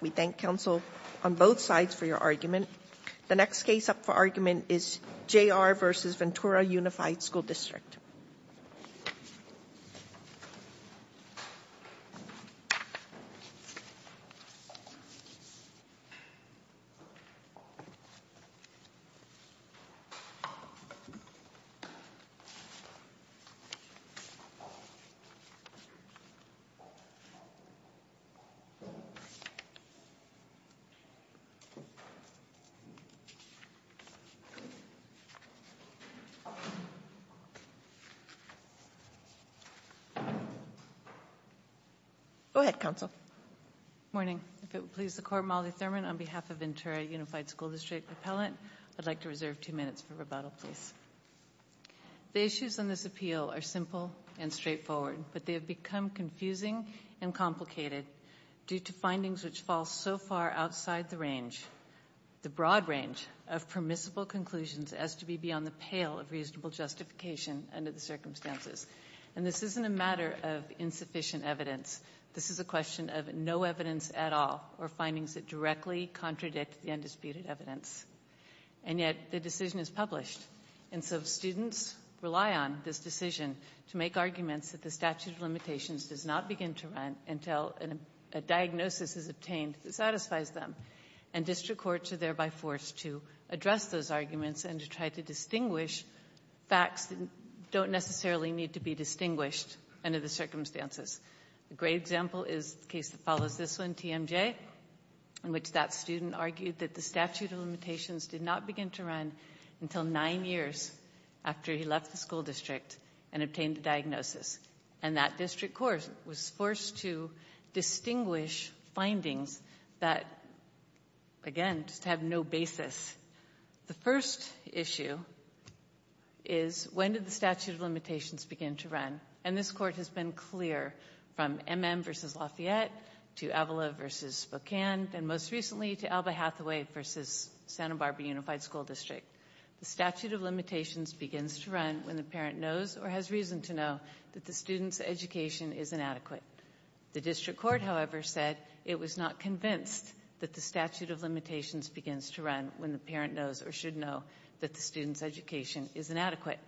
We thank counsel on both sides for your argument. The next case up for argument is J. R. v. Ventura Unified School District. Go ahead, counsel. Morning. If it would please the court, Molly Thurman, on behalf of Ventura Unified School District Appellant, I'd like to reserve two minutes for rebuttal, please. The issues on this appeal are simple and straightforward, but they have become confusing and complicated due to findings which fall so far outside the range, the broad range, of permissible conclusions as to be beyond the pale of reasonable justification under the circumstances. And this isn't a matter of insufficient evidence. This is a question of no evidence at all, or findings that directly contradict the undisputed evidence. And yet, the decision is published. And so students rely on this decision to make arguments that the statute of limitations does not begin to run until a diagnosis is obtained that satisfies them. And district courts are thereby forced to address those arguments and to try to distinguish facts that don't necessarily need to be distinguished under the circumstances. A great example is the case that follows this one, TMJ, in which that student argued that the statute of limitations did not begin to run until nine years after he left the school district and obtained a diagnosis. And that district court was forced to distinguish findings that, again, just have no basis. The first issue is, when did the statute of limitations begin to run? And this court has been clear from MM versus Lafayette to Avila versus Spokane, and most recently to Alba Hathaway versus Santa Barbara Unified School District. The statute of limitations begins to run when the parent knows or has reason to know that the student's education is inadequate. The district court, however, said it was not convinced that the statute of limitations begins to run when the parent knows or should know that the student's education is inadequate.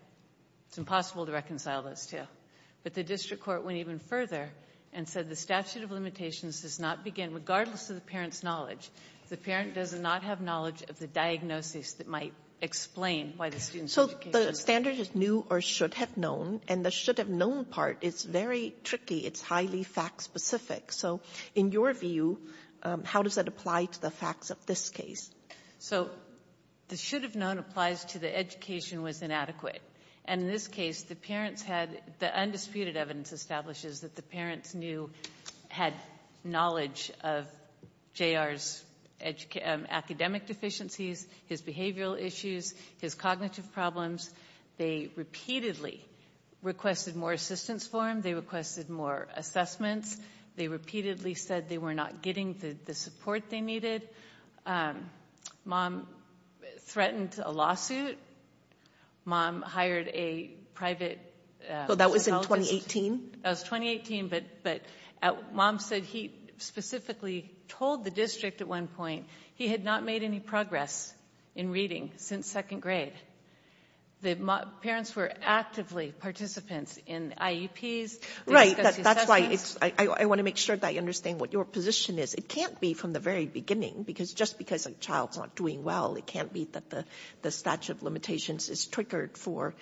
It's impossible to reconcile those two. But the district court went even further and said the statute of limitations does not begin regardless of the parent's knowledge. The parent does not have knowledge of the diagnosis that might explain why the student's So the standard is new or should have known, and the should have known part is very tricky. It's highly fact-specific. So in your view, how does that apply to the facts of this case? So the should have known applies to the education was inadequate. And in this case, the parents had the undisputed evidence establishes that the parents knew, had knowledge of JR's academic deficiencies, his behavioral issues, his cognitive problems. They repeatedly requested more assistance for him. They requested more assessments. They repeatedly said they were not getting the support they needed. Mom threatened a lawsuit. Mom hired a private- So that was in 2018? That was 2018, but Mom said he specifically told the district at one point he had not made any progress in reading since second grade. The parents were actively participants in IEPs. Right, that's why I want to make sure that I understand what your position is. It can't be from the very beginning because just because a child's not doing well, it can't be that the statute of limitations is triggered for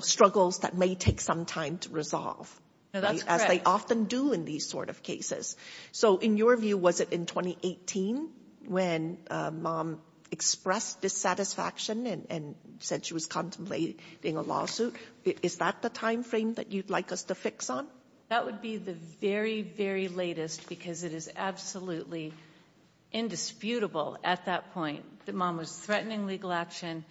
struggles that may take some time to resolve. No, that's correct. As they often do in these sort of cases. So in your view, was it in 2018 when Mom expressed dissatisfaction and said she was contemplating a lawsuit? Is that the time frame that you'd like us to fix on? That would be the very, very latest because it is absolutely indisputable at that point that Mom was threatening legal action.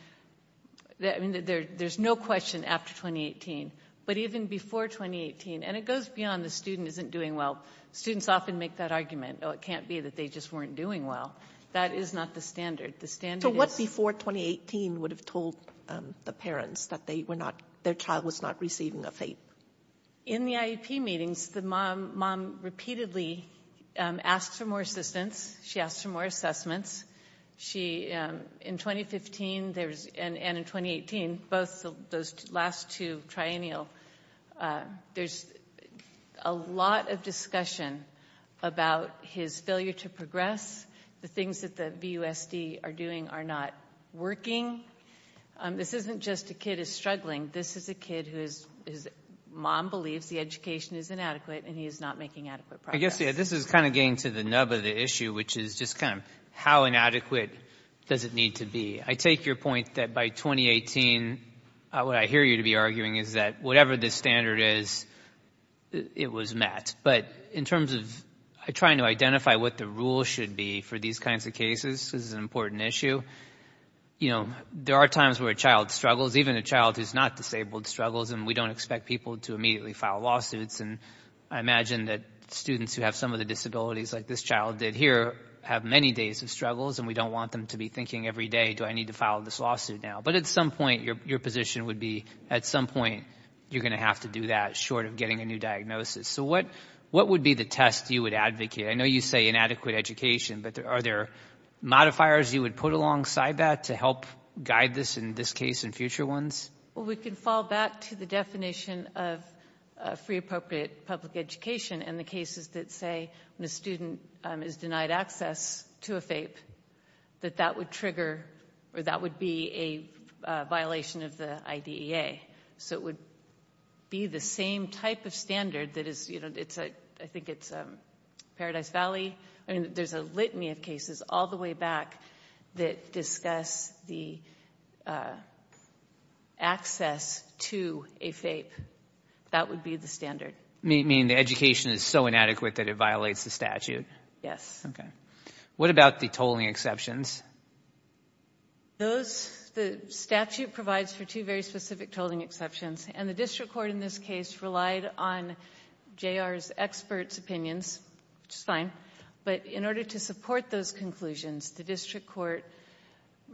There's no question after 2018. But even before 2018, and it goes beyond the student isn't doing well. Students often make that argument. Oh, it can't be that they just weren't doing well. That is not the standard. So what before 2018 would have told the parents that their child was not receiving a fate? In the IEP meetings, the mom repeatedly asked for more assistance. She asked for more assessments. In 2015 and in 2018, both those last two triennial, there's a lot of discussion about his failure to progress, the things that the BUSD are doing are not working. This isn't just a kid is struggling. This is a kid whose mom believes the education is inadequate and he is not making adequate progress. This is kind of getting to the nub of the issue, which is just kind of how inadequate does it need to be? I take your point that by 2018, what I hear you to be arguing is that whatever the standard is, it was met. But in terms of trying to identify what the rule should be for these kinds of cases, this is an important issue. There are times where a child struggles, even a child who's not disabled struggles and we don't expect people to immediately file lawsuits. And I imagine that students who have some of the disabilities like this child did here have many days of struggles and we don't want them to be thinking every day, do I need to file this lawsuit now? But at some point, your position would be at some point, you're gonna have to do that short of getting a new diagnosis. So what would be the test you would advocate? I know you say inadequate education, but are there modifiers you would put alongside that to help guide this in this case and future ones? Well, we can fall back to the definition of free appropriate public education and the cases that say when a student is denied access to a FAPE, that that would trigger, or that would be a violation of the IDEA. So it would be the same type of standard that I think it's Paradise Valley. I mean, there's a litany of cases all the way back that discuss the access to a FAPE. That would be the standard. Meaning the education is so inadequate that it violates the statute? Yes. Okay. What about the tolling exceptions? The statute provides for two very specific tolling exceptions and the district court in this case relied on J.R.'s expert's opinions, which is fine. But in order to support those conclusions, the district court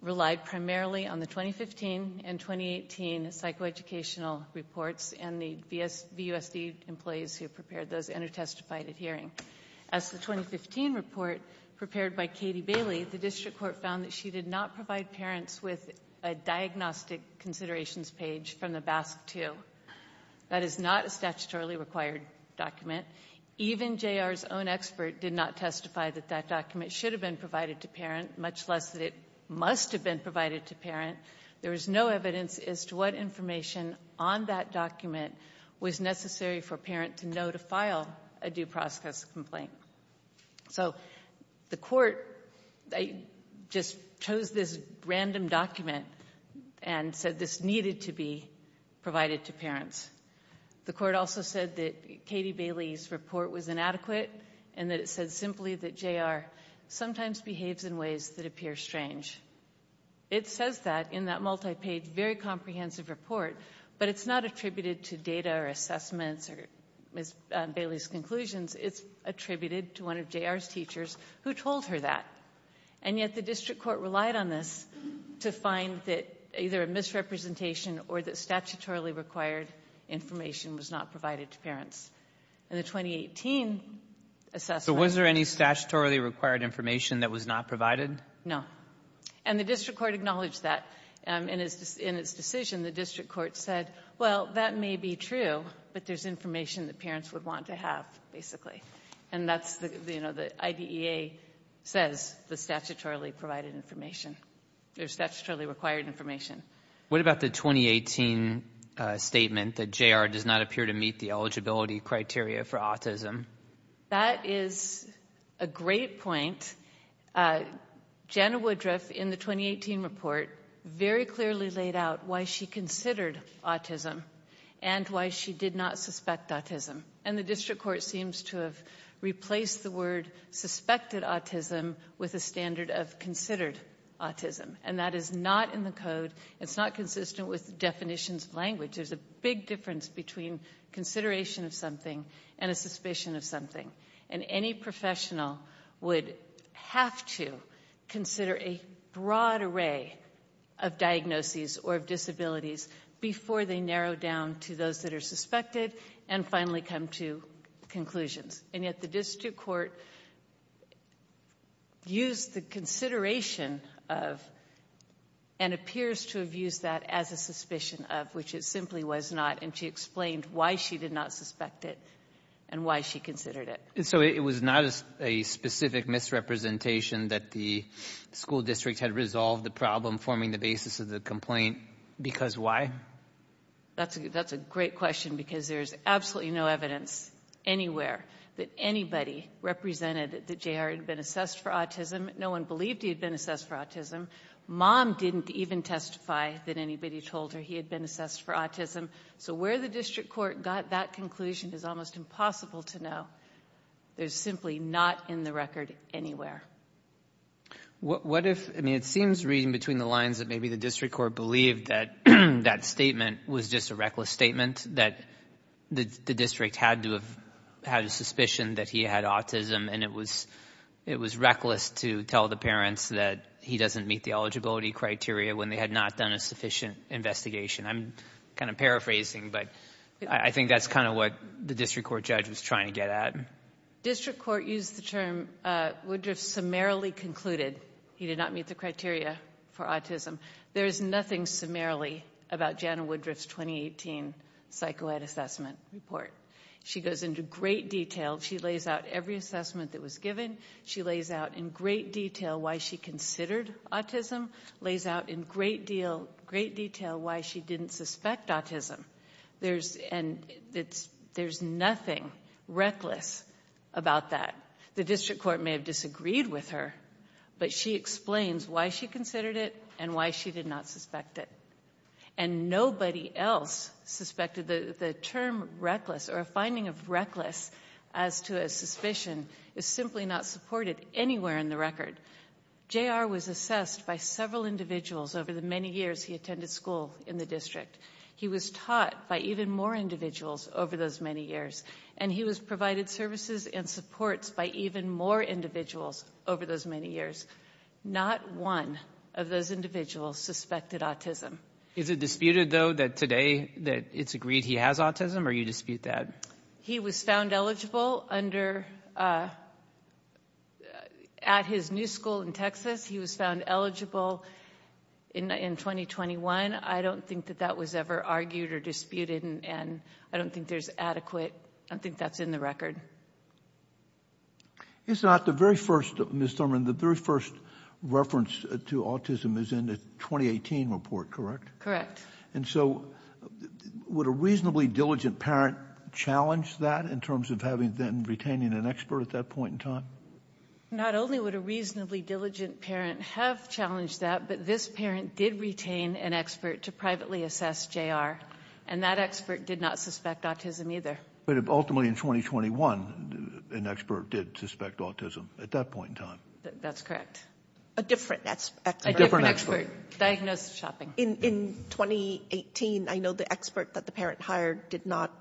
relied primarily on the 2015 and 2018 psychoeducational reports and the VUSD employees who prepared those and who testified at hearing. As the 2015 report prepared by Katie Bailey, the district court found that she did not provide parents with a diagnostic considerations page from the BASC-2. That is not a statutorily required document. Even J.R.'s own expert did not testify that that document should have been provided to parent, much less that it must have been provided to parent. There was no evidence as to what information on that document was necessary for parent to know to file a due process complaint. So the court just chose this random document and said this needed to be provided to parents. The court also said that Katie Bailey's report was inadequate and that it said simply that J.R. sometimes behaves in ways that appear strange. It says that in that multi-page, very comprehensive report, but it's not attributed to data or assessments or Ms. Bailey's conclusions. It's attributed to one of J.R.'s teachers who told her that. And yet the district court relied on this to find that either a misrepresentation or that statutorily required information was not provided to parents. In the 2018 assessment. So was there any statutorily required information that was not provided? No. And the district court acknowledged that. In its decision, the district court said, well, that may be true, but there's information that parents would want to have, basically. And that's the, you know, the IDEA says the statutorily provided information. There's statutorily required information. What about the 2018 statement that J.R. does not appear to meet the eligibility criteria for autism? That is a great point. Jana Woodruff, in the 2018 report, very clearly laid out why she considered autism and why she did not suspect autism. And the district court seems to have replaced the word suspected autism with a standard of considered autism. And that is not in the code. It's not consistent with definitions of language. There's a big difference between consideration of something and a suspicion of something. And any professional would have to consider a broad array of diagnoses or of disabilities before they narrow down to those that are suspected and finally come to conclusions. And yet the district court used the consideration of, and appears to have used that as a suspicion of, which it simply was not, and she explained why she did not suspect it and why she considered it. So it was not a specific misrepresentation that the school district had resolved the problem forming the basis of the complaint, because why? That's a great question because there's absolutely no evidence anywhere that anybody represented that JR had been assessed for autism. No one believed he had been assessed for autism. Mom didn't even testify that anybody told her he had been assessed for autism. So where the district court got that conclusion is almost impossible to know. There's simply not in the record anywhere. What if, I mean, it seems reading between the lines that maybe the district court believed that that statement was just a reckless statement, that the district had to have had a suspicion that he had autism and it was reckless to tell the parents that he doesn't meet the eligibility criteria when they had not done a sufficient investigation. I'm kind of paraphrasing, but I think that's kind of what the district court judge was trying to get at. District court used the term, Woodruff summarily concluded he did not meet the criteria for autism. There's nothing summarily about Jana Woodruff's 2018 psycho-ed assessment report. She goes into great detail. She lays out every assessment that was given. She lays out in great detail why she considered autism. Lays out in great detail why she didn't suspect autism. There's nothing reckless about that. The district court may have disagreed with her, but she explains why she considered it and why she did not suspect it. And nobody else suspected the term reckless or a finding of reckless as to a suspicion is simply not supported anywhere in the record. J.R. was assessed by several individuals over the many years he attended school in the district. He was taught by even more individuals over those many years. And he was provided services and supports by even more individuals over those many years. Not one of those individuals suspected autism. Is it disputed though that today that it's agreed he has autism or you dispute that? He was found eligible under, at his new school in Texas, he was found eligible in 2021. I don't think that that was ever argued or disputed and I don't think there's adequate, I don't think that's in the record. It's not the very first, Ms. Thurman, the very first reference to autism is in the 2018 report, correct? Correct. And so would a reasonably diligent parent challenge that in terms of having then retaining an expert at that point in time? Not only would a reasonably diligent parent have challenged that, but this parent did retain an expert to privately assess J.R. And that expert did not suspect autism either. But ultimately in 2021, an expert did suspect autism at that point in time. That's correct. A different expert. A different expert. Diagnosed shopping. In 2018, I know the expert that the parent hired did not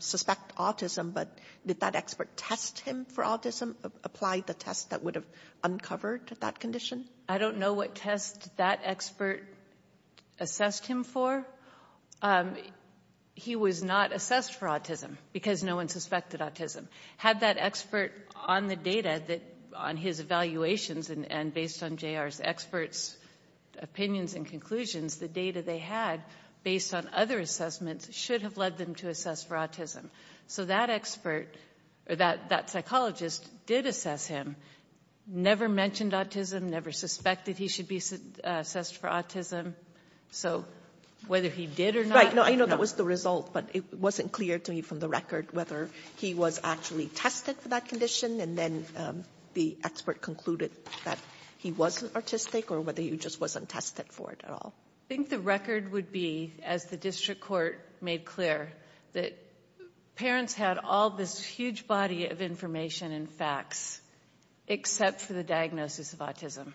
suspect autism, but did that expert test him for autism, apply the test that would have uncovered that condition? I don't know what test that expert assessed him for. He was not assessed for autism because no one suspected autism. Had that expert on the data that on his evaluations and based on J.R.'s experts opinions and conclusions, the data they had based on other assessments should have led them to assess for autism. So that expert, or that psychologist did assess him. Never mentioned autism, never suspected he should be assessed for autism. So whether he did or not. Right, no, I know that was the result, but it wasn't clear to me from the record whether he was actually tested for that condition. And then the expert concluded that he wasn't autistic or whether he just wasn't tested for it at all. I think the record would be, as the district court made clear, that parents had all this huge body of information and facts except for the diagnosis of autism.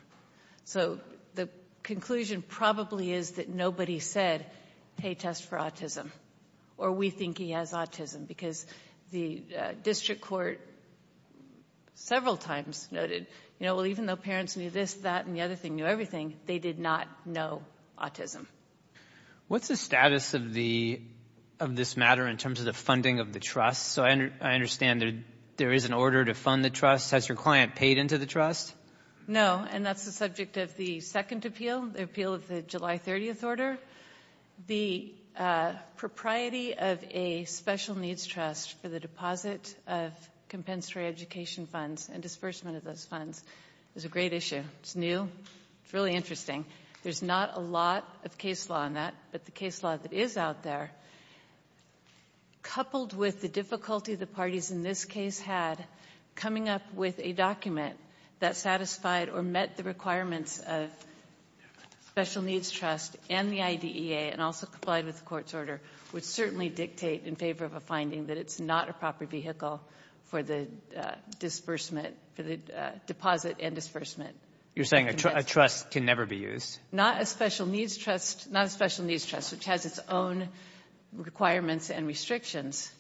So the conclusion probably is that nobody said, hey, test for autism. Or we think he has autism. Because the district court several times noted, you know, well, even though parents knew this, that, and the other thing, knew everything, they did not know autism. What's the status of this matter in terms of the funding of the trust? So I understand there is an order to fund the trust. Has your client paid into the trust? No, and that's the subject of the second appeal, the appeal of the July 30th order. The propriety of a special needs trust for the deposit of compensatory education funds and disbursement of those funds is a great issue. It's new, it's really interesting. There's not a lot of case law on that, but the case law that is out there, coupled with the difficulty the parties in this case had coming up with a document that satisfied or met the requirements of special needs trust and the IDEA and also complied with the court's order, would certainly dictate in favor of a finding that it's not a proper vehicle for the disbursement, for the deposit and disbursement. You're saying a trust can never be used? Not a special needs trust, not a special needs trust, which has its own requirements and restrictions,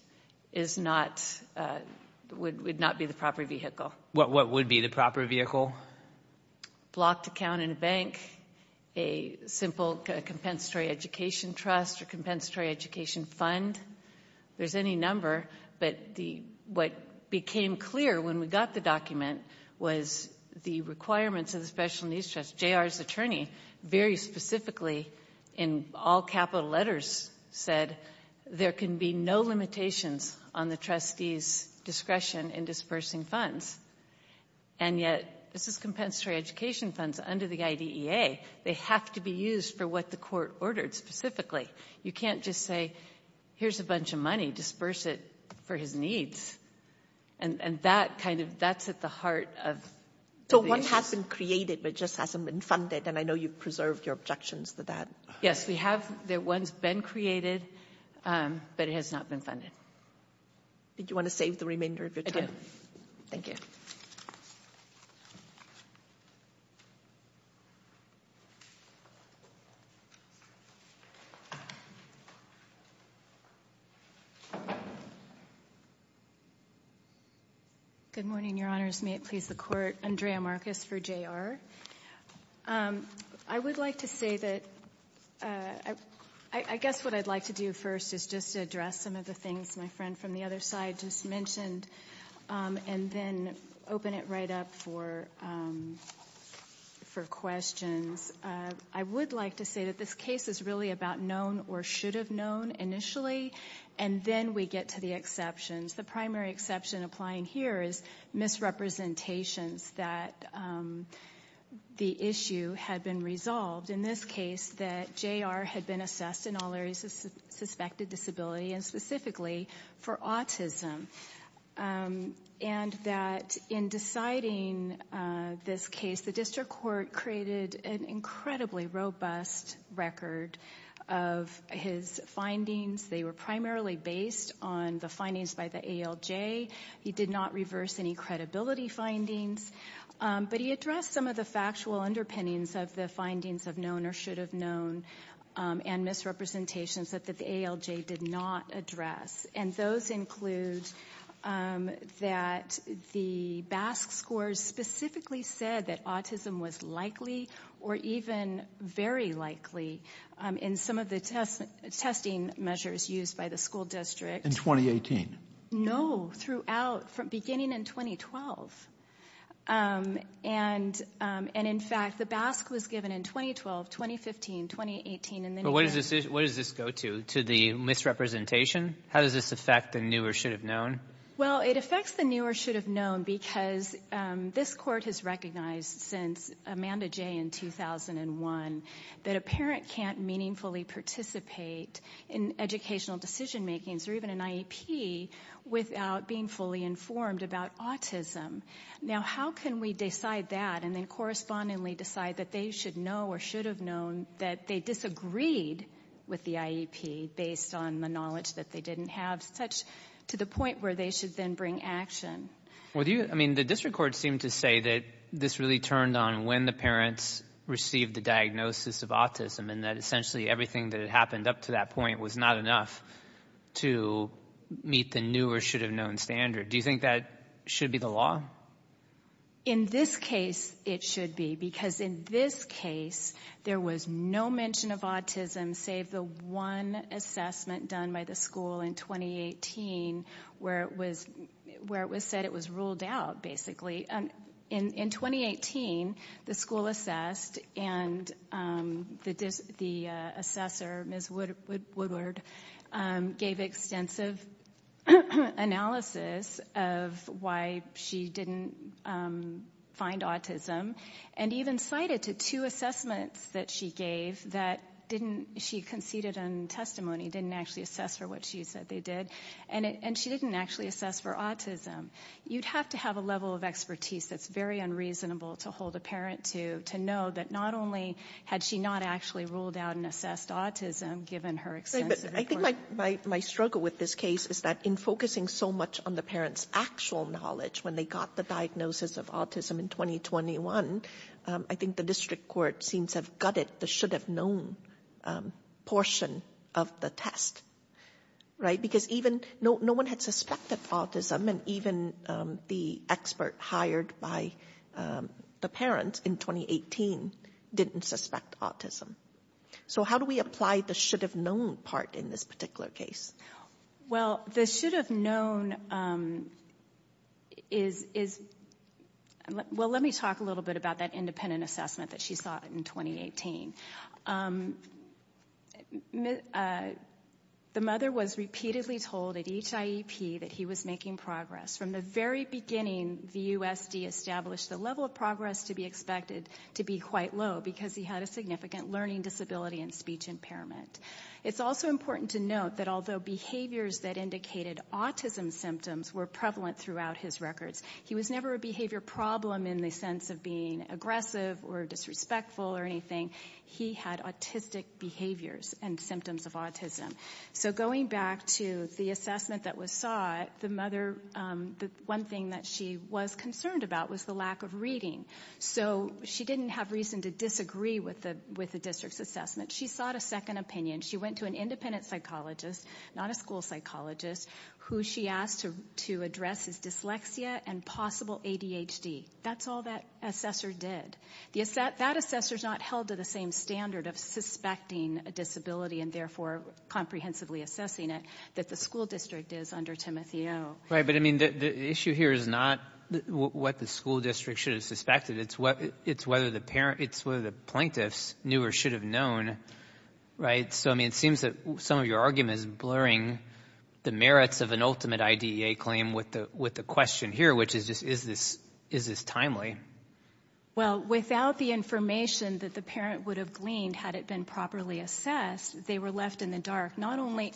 is not, would not be the proper vehicle. What would be the proper vehicle? A simple blocked account in a bank, a simple compensatory education trust or compensatory education fund, there's any number, but what became clear when we got the document was the requirements of the special needs trust. J.R.'s attorney very specifically, in all capital letters, said there can be no limitations on the trustee's discretion in disbursing funds. And yet, this is compensatory education funds under the IDEA, they have to be used for what the court ordered specifically. You can't just say, here's a bunch of money, disburse it for his needs. And that kind of, that's at the heart of the issue. So one has been created, but just hasn't been funded and I know you've preserved your objections to that. Yes, we have, one's been created, but it has not been funded. Did you want to save the remainder of your time? Thank you. Good morning, your honors. May it please the court, Andrea Marcus for J.R. I would like to say that, I guess what I'd like to do first is just address some of the things my friend from the other side just mentioned and then open it right up for questions. I would like to say that this case is really about known or should have known initially and then we get to the exceptions. The primary exception applying here is misrepresentations that the issue had been resolved. In this case, that J.R. had been assessed in all areas of suspected disability and specifically for autism. And that in deciding this case, the district court created an incredibly robust record of his findings. They were primarily based on the findings by the ALJ. He did not reverse any credibility findings, but he addressed some of the factual underpinnings of the findings of known or should have known and misrepresentations that the ALJ did not address. And those include that the BASC scores specifically said that autism was likely or even very likely in some of the testing measures used by the school district. In 2018? No, throughout, from beginning in 2012. And in fact, the BASC was given in 2012, 2015, 2018 and then he passed. But what does this go to? To the misrepresentation? How does this affect the new or should have known? Well, it affects the new or should have known because this court has recognized since Amanda J. in 2001 that a parent can't meaningfully participate in educational decision makings or even an IEP without being fully informed about autism. Now, how can we decide that and then correspondingly decide that they should know or should have known that they disagreed with the IEP based on the knowledge that they didn't have such to the point where they should then bring action? Well, I mean, the district court seemed to say that this really turned on when the parents received the diagnosis of autism and that essentially everything that had happened up to that point was not enough to meet the new or should have known standard. Do you think that should be the law? In this case, it should be because in this case, there was no mention of autism save the one assessment done by the school in 2018 where it was said it was ruled out basically. In 2018, the school assessed and the assessor, Ms. Woodward, gave extensive analysis of why she didn't find autism and even cited to two assessments that she gave that she conceded on testimony, didn't actually assess for what she said they did and she didn't actually assess for autism. You'd have to have a level of expertise that's very unreasonable to hold a parent to know that not only had she not actually ruled out and assessed autism given her extensive report. I think my struggle with this case is that in focusing so much on the parents' actual knowledge when they got the diagnosis of autism in 2021, I think the district court seems have gutted the should have known portion of the test, right? Because even no one had suspected autism and even the expert hired by the parents in 2018 didn't suspect autism. So how do we apply the should have known part in this particular case? Well, the should have known is, well, let me talk a little bit about that independent assessment that she saw in 2018. The mother was repeatedly told at each IEP that he was making progress. From the very beginning, the USD established the level of progress to be expected to be quite low because he had a significant learning disability and speech impairment. It's also important to note that although behaviors that indicated autism symptoms were prevalent throughout his records, he was never a behavior problem in the sense of being aggressive or disrespectful or anything. He had autistic behaviors and symptoms of autism. So going back to the assessment that was sought, the mother, the one thing that she was concerned about was the lack of reading. So she didn't have reason to disagree with the district's assessment. She sought a second opinion. She went to an independent psychologist, not a school psychologist, who she asked to address his dyslexia and possible ADHD. That's all that assessor did. Yes, that assessor's not held to the same standard of suspecting a disability and therefore comprehensively assessing it that the school district is under Timothy O. Right, but I mean, the issue here is not what the school district should have suspected. It's whether the plaintiffs knew or should have known, right? So I mean, it seems that some of your argument is blurring the merits of an ultimate IDEA claim with the question here, which is just, is this timely? Well, without the information that the parent would have gleaned had it been properly assessed, they were left in the dark, not only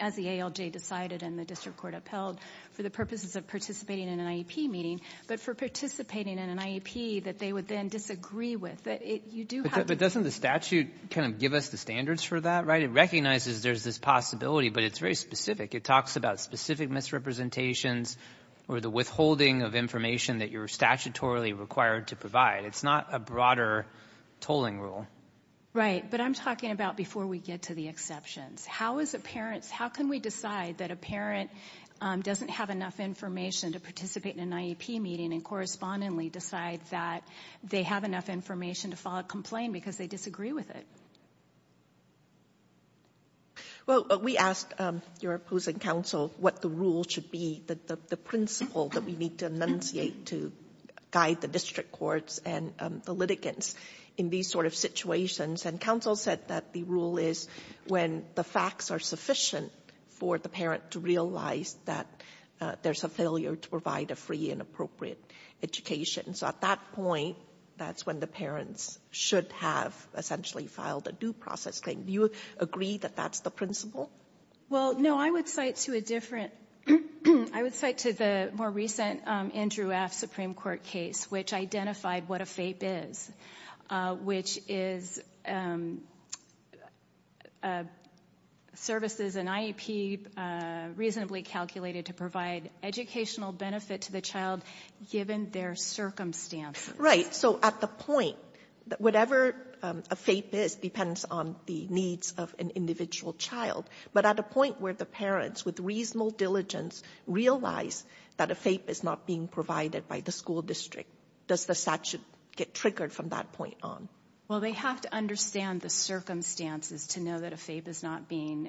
as the ALJ decided and the district court upheld for the purposes of participating in an IEP meeting, but for participating in an IEP that they would then disagree with. But doesn't the statute kind of give us the standards for that, right? It recognizes there's this possibility, but it's very specific. It talks about specific misrepresentations or the withholding of information that you're statutorily required to provide. It's not a broader tolling rule. Right, but I'm talking about before we get to the exceptions. How can we decide that a parent doesn't have enough information to participate in an IEP meeting and correspondingly decide that they have enough information to file a complaint because they disagree with it? Well, we asked your opposing counsel what the rule should be, the principle that we need to enunciate to guide the district courts and the litigants in these sort of situations. And counsel said that the rule is when the facts are sufficient for the parent to realize that there's a failure to provide a free and appropriate education. So at that point, that's when the parents should have essentially filed a due process claim. Do you agree that that's the principle? Well, no, I would cite to a different, I would cite to the more recent Andrew F. Supreme Court case, which identified what a FAPE is, which is services and IEP reasonably calculated to provide educational benefit to the child given their circumstances. Right, so at the point, whatever a FAPE is depends on the needs of an individual child. But at a point where the parents with reasonable diligence realize that a FAPE is not being provided by the school district, does the statute get triggered from that point on? Well, they have to understand the circumstances to know that a FAPE is not being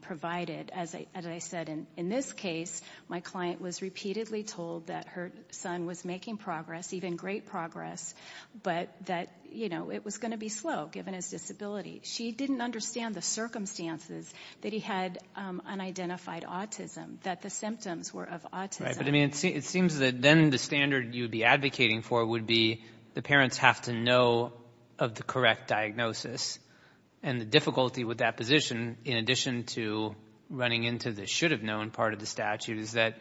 provided. As I said, in this case, my client was repeatedly told that her son was making progress, even great progress, but that it was gonna be slow given his disability. She didn't understand the circumstances that he had unidentified autism, that the symptoms were of autism. Right, but I mean, it seems that then the standard you would be advocating for would be the parents have to know of the correct diagnosis. And the difficulty with that position in addition to running into the should have known part of the statute is that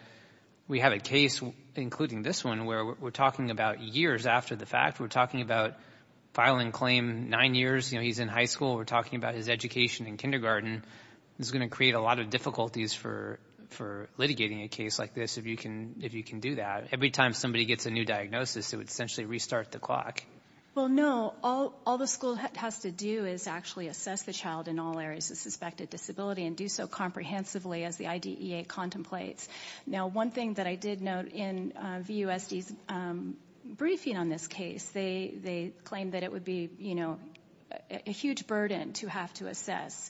we have a case, including this one, where we're talking about years after the fact, we're talking about filing claim nine years, you know, he's in high school, we're talking about his education in kindergarten. It's gonna create a lot of difficulties for litigating a case like this, if you can do that. Every time somebody gets a new diagnosis, it would essentially restart the clock. Well, no, all the school has to do is actually assess the child in all areas of suspected disability and do so comprehensively as the IDEA contemplates. Now, one thing that I did note in VUSD's briefing on this case, they claimed that it would be, you know, a huge burden to have to assess,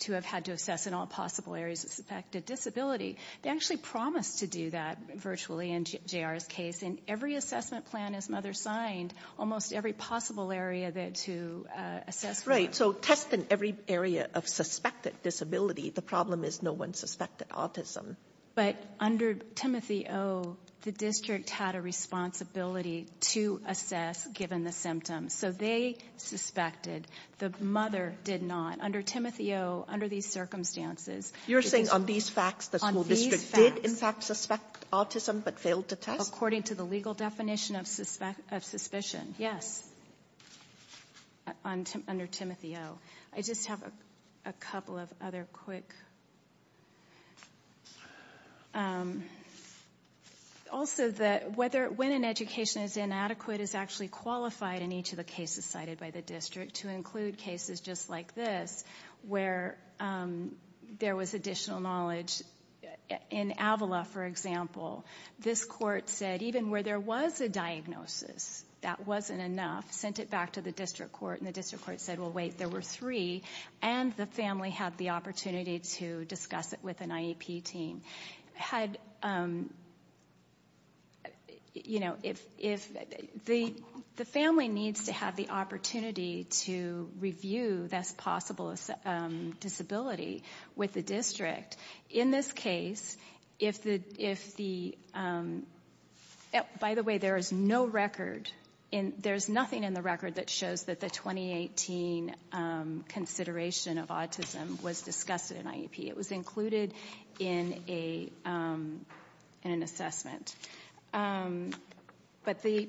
to have had to assess in all possible areas of suspected disability. They actually promised to do that virtually in JR's case. In every assessment plan his mother signed, almost every possible area to assess for. Right, so test in every area of suspected disability, the problem is no one suspected autism. But under Timothy O, the district had a responsibility to assess given the symptoms. So they suspected, the mother did not. Under Timothy O, under these circumstances. You're saying on these facts, the school district did in fact suspect autism but failed to test? According to the legal definition of suspicion, yes. Under Timothy O. I just have a couple of other quick, also that when an education is inadequate is actually qualified in each of the cases cited by the district to include cases just like this where there was additional knowledge. In Avala, for example, this court said even where there was a diagnosis, that wasn't enough, sent it back to the district court and the district court said, well wait, there were three, and the family had the opportunity to discuss it with an IEP team. The family needs to have the opportunity to review this possible disability with the district. In this case, if the, by the way, there is no record, there's nothing in the record that shows that the 2018 consideration of autism was discussed in IEP. It was included in an assessment. But the,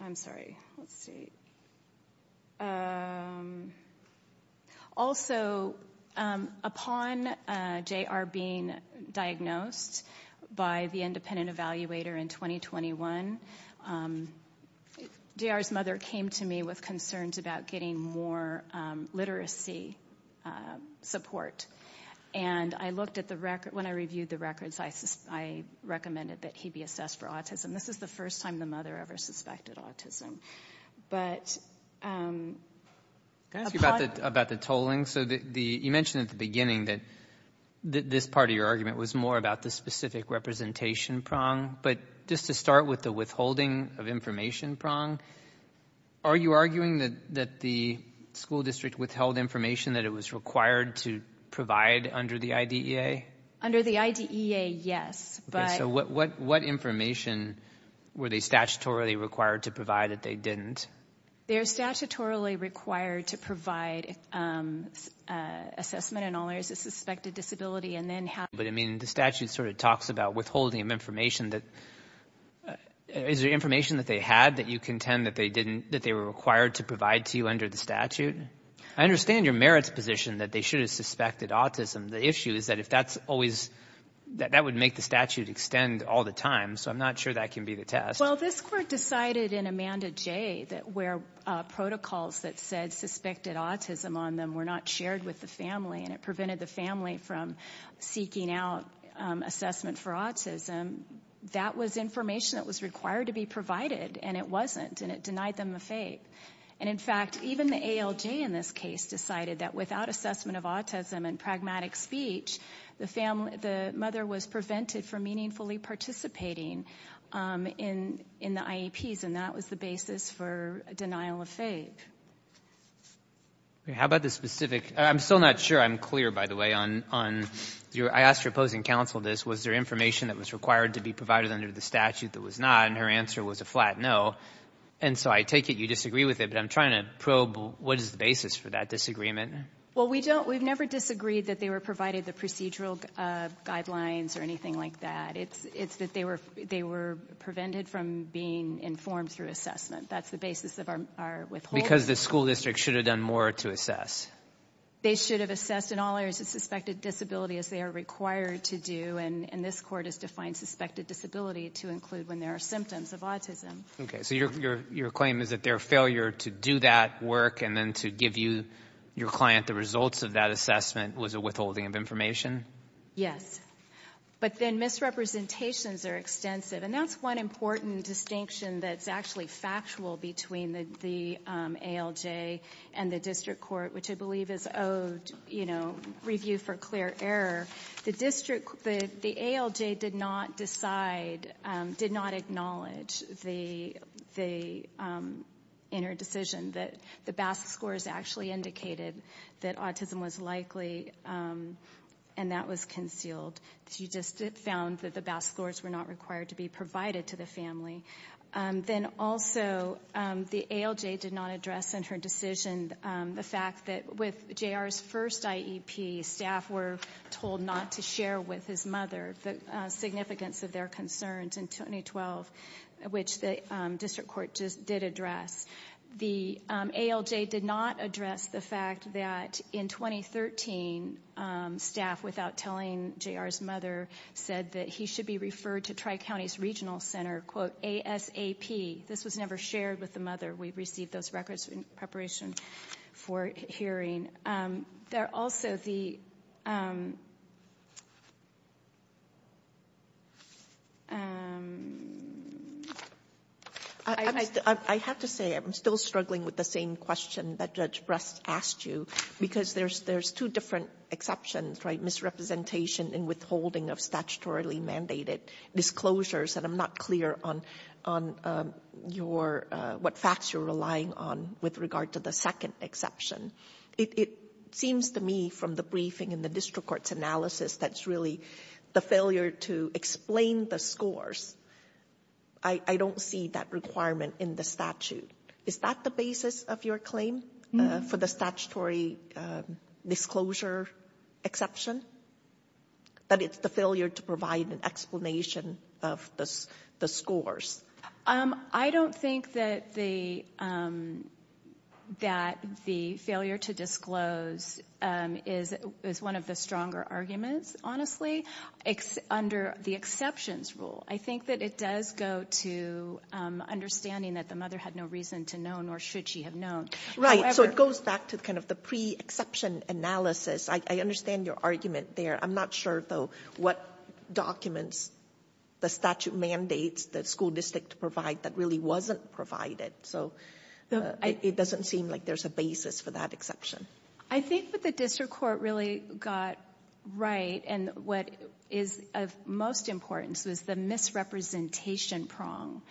I'm sorry, let's see. Also, upon JR being diagnosed by the independent evaluator in 2021, JR's mother came to me with concerns about getting more literacy support. And I looked at the record, when I reviewed the records, I recommended that he be assessed for autism. This is the first time the mother ever suspected autism. But. Can I ask you about the tolling? So you mentioned at the beginning that this part of your argument was more about the specific representation prong. But just to start with the withholding of information prong, are you arguing that the school district withheld information that it was required to provide under the IDEA? Under the IDEA, yes, but. So what information were they statutorily required to provide that they didn't? They're statutorily required to provide assessment in all areas of suspected disability and then have. But I mean, the statute sort of talks about withholding of information that. Is there information that they had that you contend that they didn't, that they were required to provide to you under the statute? I understand your merits position that they should have suspected autism. The issue is that if that's always, that that would make the statute extend all the time. So I'm not sure that can be the test. Well, this court decided in Amanda J that where protocols that said suspected autism on them were not shared with the family and it prevented the family from seeking out assessment for autism. That was information that was required to be provided and it wasn't and it denied them a FAPE. And in fact, even the ALJ in this case decided that without assessment of autism and pragmatic speech, the mother was prevented from meaningfully participating in the IEPs and that was the basis for denial of FAPE. How about the specific, I'm still not sure, I'm clear by the way on your, I asked your opposing counsel this, was there information that was required to be provided under the statute that was not and her answer was a flat no. And so I take it you disagree with it, but I'm trying to probe what is the basis for that disagreement? Well, we don't, we've never disagreed that they were provided the procedural guidelines or anything like that. It's that they were prevented from being informed through assessment. That's the basis of our withholding. Because the school district should have done more to assess. They should have assessed in all areas of suspected disability as they are required to do and this court has defined suspected disability to include when there are symptoms of autism. Okay, so your claim is that their failure to do that work and then to give you, your client the results of that assessment was a withholding of information? Yes. But then misrepresentations are extensive and that's one important distinction that's actually factual between the ALJ and the district court, which I believe is owed review for clear error. The district, the ALJ did not decide, did not acknowledge the inner decision that the BASC scores actually indicated that autism was likely and that was concealed. She just found that the BASC scores were not required to be provided to the family. Then also, the ALJ did not address in her decision the fact that with JR's first IEP, staff were told not to share with his mother the significance of their concerns in 2012, which the district court just did address. The ALJ did not address the fact that in 2013, staff without telling JR's mother said that he should be referred to Tri-Counties Regional Center, quote, ASAP. This was never shared with the mother. We received those records in preparation for hearing. There are also the... I have to say, I'm still struggling with the same question that Judge Brest asked you because there's two different exceptions, right? Misrepresentation and withholding of statutorily mandated disclosures and I'm not clear on your, what facts you're relying on with regard to the second exception. It seems to me from the briefing and the district court's analysis that's really the failure to explain the scores. I don't see that requirement in the statute. Is that the basis of your claim for the statutory disclosure exception? That it's the failure to provide an explanation of the scores? I don't think that the failure to disclose is one of the stronger arguments, honestly, under the exceptions rule. I think that it does go to understanding that the mother had no reason to know nor should she have known. Right, so it goes back to kind of the pre-exception analysis. I understand your argument there. I'm not sure, though, what documents the statute mandates the school district to provide that really wasn't provided. So it doesn't seem like there's a basis for that exception. I think what the district court really got right and what is of most importance was the misrepresentation prong.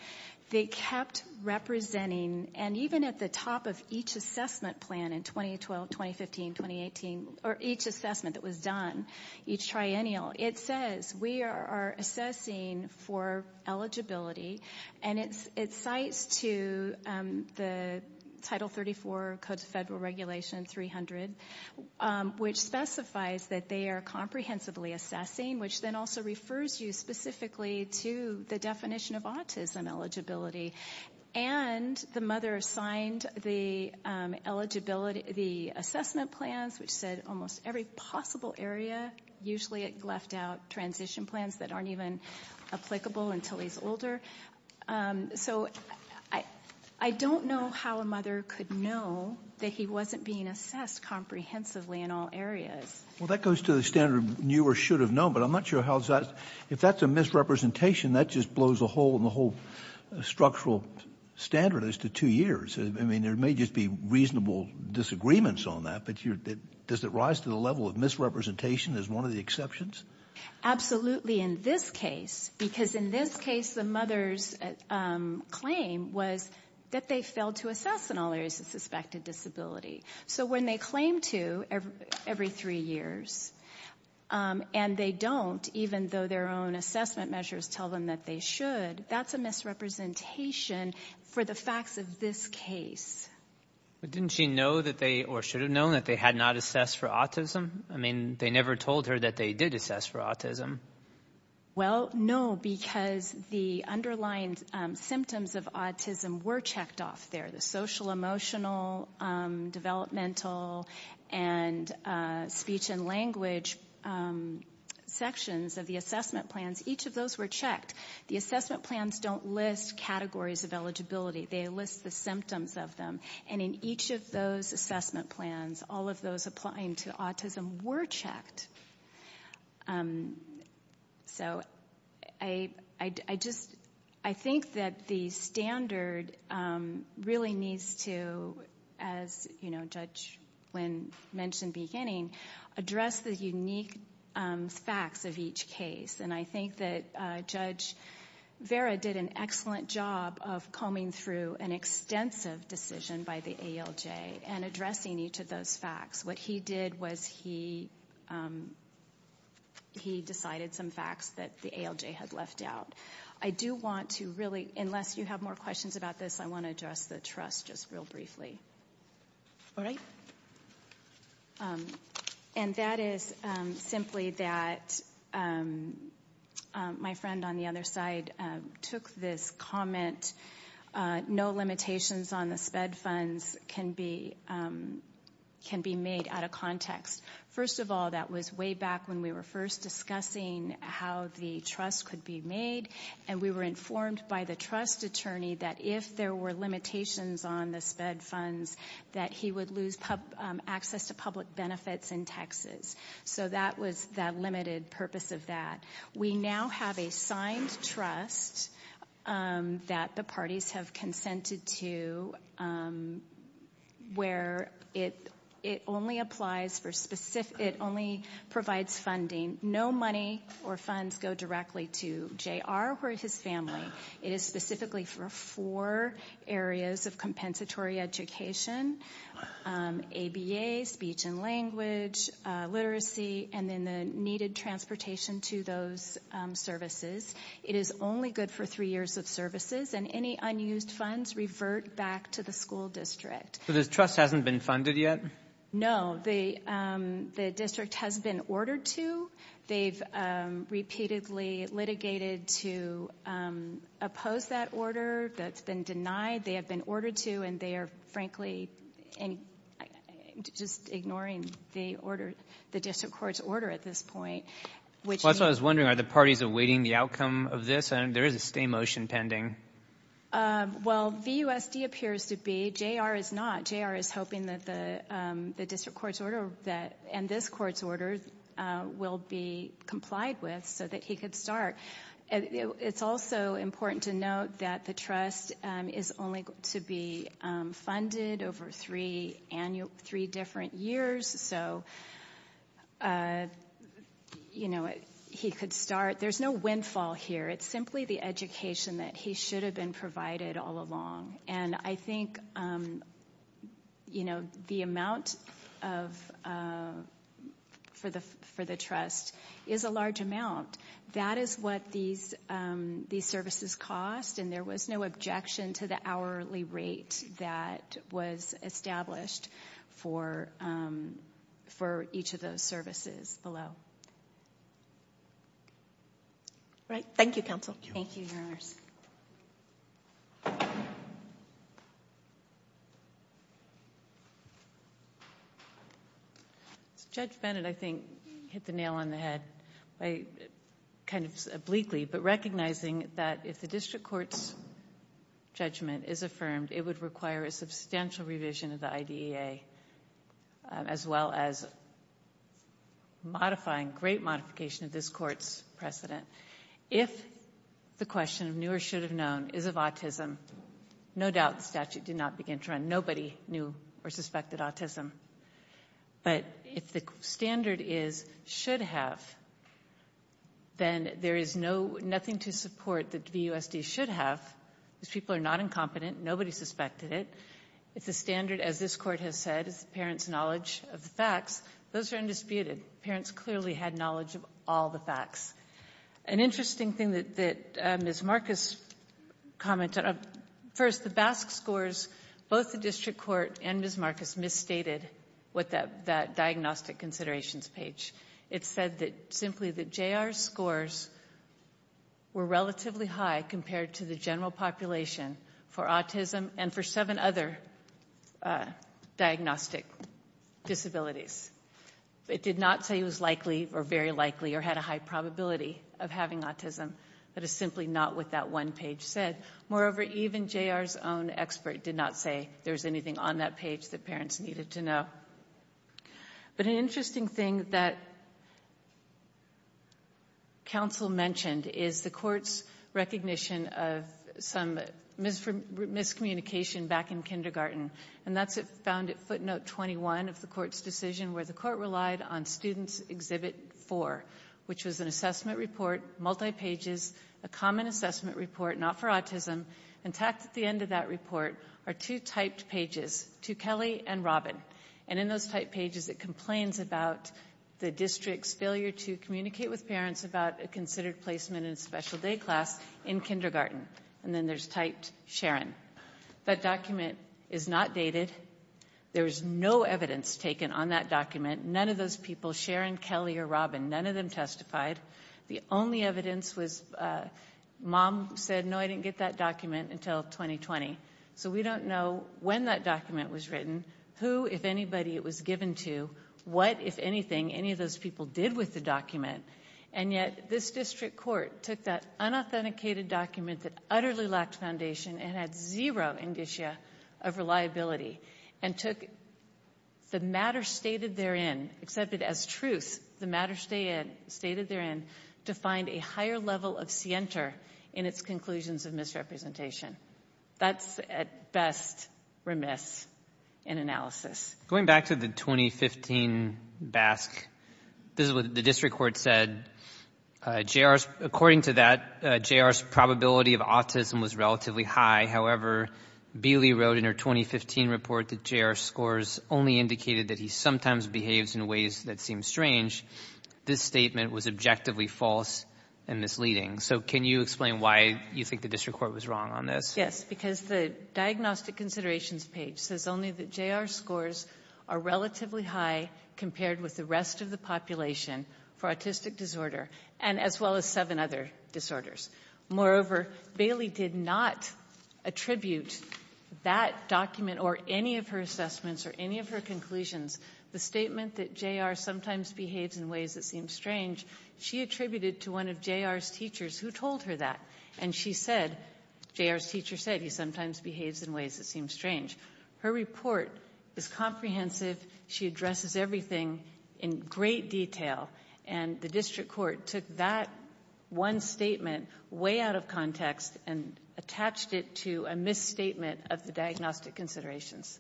They kept representing and even at the top of each assessment plan in 2012, 2015, 2018, or each assessment that was done, each triennial, it says we are assessing for eligibility and it cites to the Title 34 Code of Federal Regulation 300, which specifies that they are comprehensively assessing, which then also refers you specifically to the definition of autism eligibility. And the mother signed the assessment plans which said almost every possible area, usually it left out transition plans that aren't even applicable until he's older. So I don't know how a mother could know that he wasn't being assessed comprehensively in all areas. Well, that goes to the standard of knew or should have known, but I'm not sure how that, if that's a misrepresentation, that just blows a hole in the whole structural standard as to two years. I mean, there may just be reasonable disagreements on that, but does it rise to the level of misrepresentation as one of the exceptions? Absolutely in this case, because in this case, the mother's claim was that they failed to assess in all areas of suspected disability. So when they claim to every three years, and they don't, even though their own assessment measures tell them that they should, that's a misrepresentation for the facts of this case. But didn't she know that they, or should have known that they had not assessed for autism? I mean, they never told her that they did assess for autism. Well, no, because the underlying symptoms of autism were checked off there, the social, emotional, developmental, and speech and language sections of the assessment plans, each of those were checked. The assessment plans don't list categories of eligibility, they list the symptoms of them. And in each of those assessment plans, all of those applying to autism were checked. So I just, I think that the standard really needs to, as Judge Nguyen mentioned beginning, address the unique facts of each case. And I think that Judge Vera did an excellent job of combing through an extensive decision by the ALJ and addressing each of those facts. What he did was he decided some facts that the ALJ had left out. I do want to really, unless you have more questions about this, I wanna address the trust just real briefly. All right? And that is simply that my friend on the other side took this comment, no limitations on the SPED funds can be made out of context. First of all, that was way back when we were first discussing how the trust could be made, and we were informed by the trust attorney that if there were limitations on the SPED funds, that he would lose access to public benefits in Texas. So that was the limited purpose of that. We now have a signed trust that the parties have consented to, where it only applies for specific, it only provides funding. No money or funds go directly to JR or his family. It is specifically for four areas of compensatory education, ABA, speech and language, literacy, and then the needed transportation to those services. It is only good for three years of services, and any unused funds revert back to the school district. So this trust hasn't been funded yet? No, the district has been ordered to. They've repeatedly litigated to oppose that order. That's been denied. They have been ordered to, and they are frankly, and just ignoring the order, the district court's order at this point, which- That's what I was wondering, are the parties awaiting the outcome of this? There is a stay motion pending. Well, VUSD appears to be, JR is not. JR is hoping that the district court's order, and this court's order will be complied with so that he could start. It's also important to note that the trust is only to be funded over three different years, so he could start. There's no windfall here. It's simply the education that he should have been provided all along, and I think the amount for the trust is a large amount. That is what these services cost, and there was no objection to the hourly rate that was established for each of those services below. Right, thank you, counsel. Thank you, Your Honors. Judge Bennett, I think, hit the nail on the head by kind of obliquely, but recognizing that if the district court's judgment is affirmed, it would require a substantial revision of the IDEA, as well as modifying, great modification of this court's precedent. If the question of knew or should have known is of autism, no doubt the statute did not begin to run. Nobody knew or suspected autism, but if the standard is should have, then there is nothing to support that VUSD should have. These people are not incompetent. Nobody suspected it. It's a standard, as this court has said, it's the parent's knowledge of the facts. Those are undisputed. Parents clearly had knowledge of all the facts. An interesting thing that Ms. Marcus commented, first, the BASC scores, both the district court and Ms. Marcus misstated with that diagnostic considerations page. It said simply that JR's scores were relatively high compared to the general population for autism and for seven other diagnostic disabilities. It did not say it was likely or very likely or had a high probability of having autism. That is simply not what that one page said. Moreover, even JR's own expert did not say there was anything on that page that parents needed to know. But an interesting thing that counsel mentioned is the court's recognition of some miscommunication back in kindergarten, and that's found at footnote 21 of the court's decision, where the court relied on student's exhibit four, which was an assessment report, multi-pages, a common assessment report, not for autism, and tacked at the end of that report are two typed pages, to Kelly and Robin. And in those typed pages, it complains about the district's failure to communicate with parents about a considered placement in special day class in kindergarten. And then there's typed Sharon. That document is not dated. There is no evidence taken on that document. None of those people, Sharon, Kelly, or Robin, none of them testified. The only evidence was mom said, no, I didn't get that document until 2020. So we don't know when that document was written, who, if anybody, it was given to, what, if anything, any of those people did with the document. And yet this district court took that unauthenticated document that utterly lacked foundation and had zero indicia of reliability, and took the matter stated therein, accepted as truth, the matter stated therein, to find a higher level of scienter in its conclusions of misrepresentation. That's at best remiss in analysis. Going back to the 2015 BASC, this is what the district court said. According to that, J.R.'s probability of autism was relatively high. However, Beeley wrote in her 2015 report that J.R.'s scores only indicated that he sometimes behaves in ways that seem strange. This statement was objectively false and misleading. So can you explain why you think the district court was wrong on this? Yes, because the diagnostic considerations page says only that J.R.'s scores are relatively high compared with the rest of the population for autistic disorder, and as well as seven other disorders. Moreover, Beeley did not attribute that document or any of her assessments or any of her conclusions. The statement that J.R. sometimes behaves in ways that seem strange, she attributed to one of J.R.'s teachers who told her that. And she said, J.R.'s teacher said, he sometimes behaves in ways that seem strange. Her report is comprehensive. She addresses everything in great detail. And the district court took that one statement way out of context and attached it to a misstatement of the diagnostic considerations.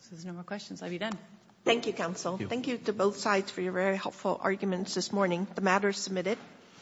So there's no more questions. I'll be done. Thank you, counsel. Thank you to both sides for your very helpful arguments this morning. The matter is submitted.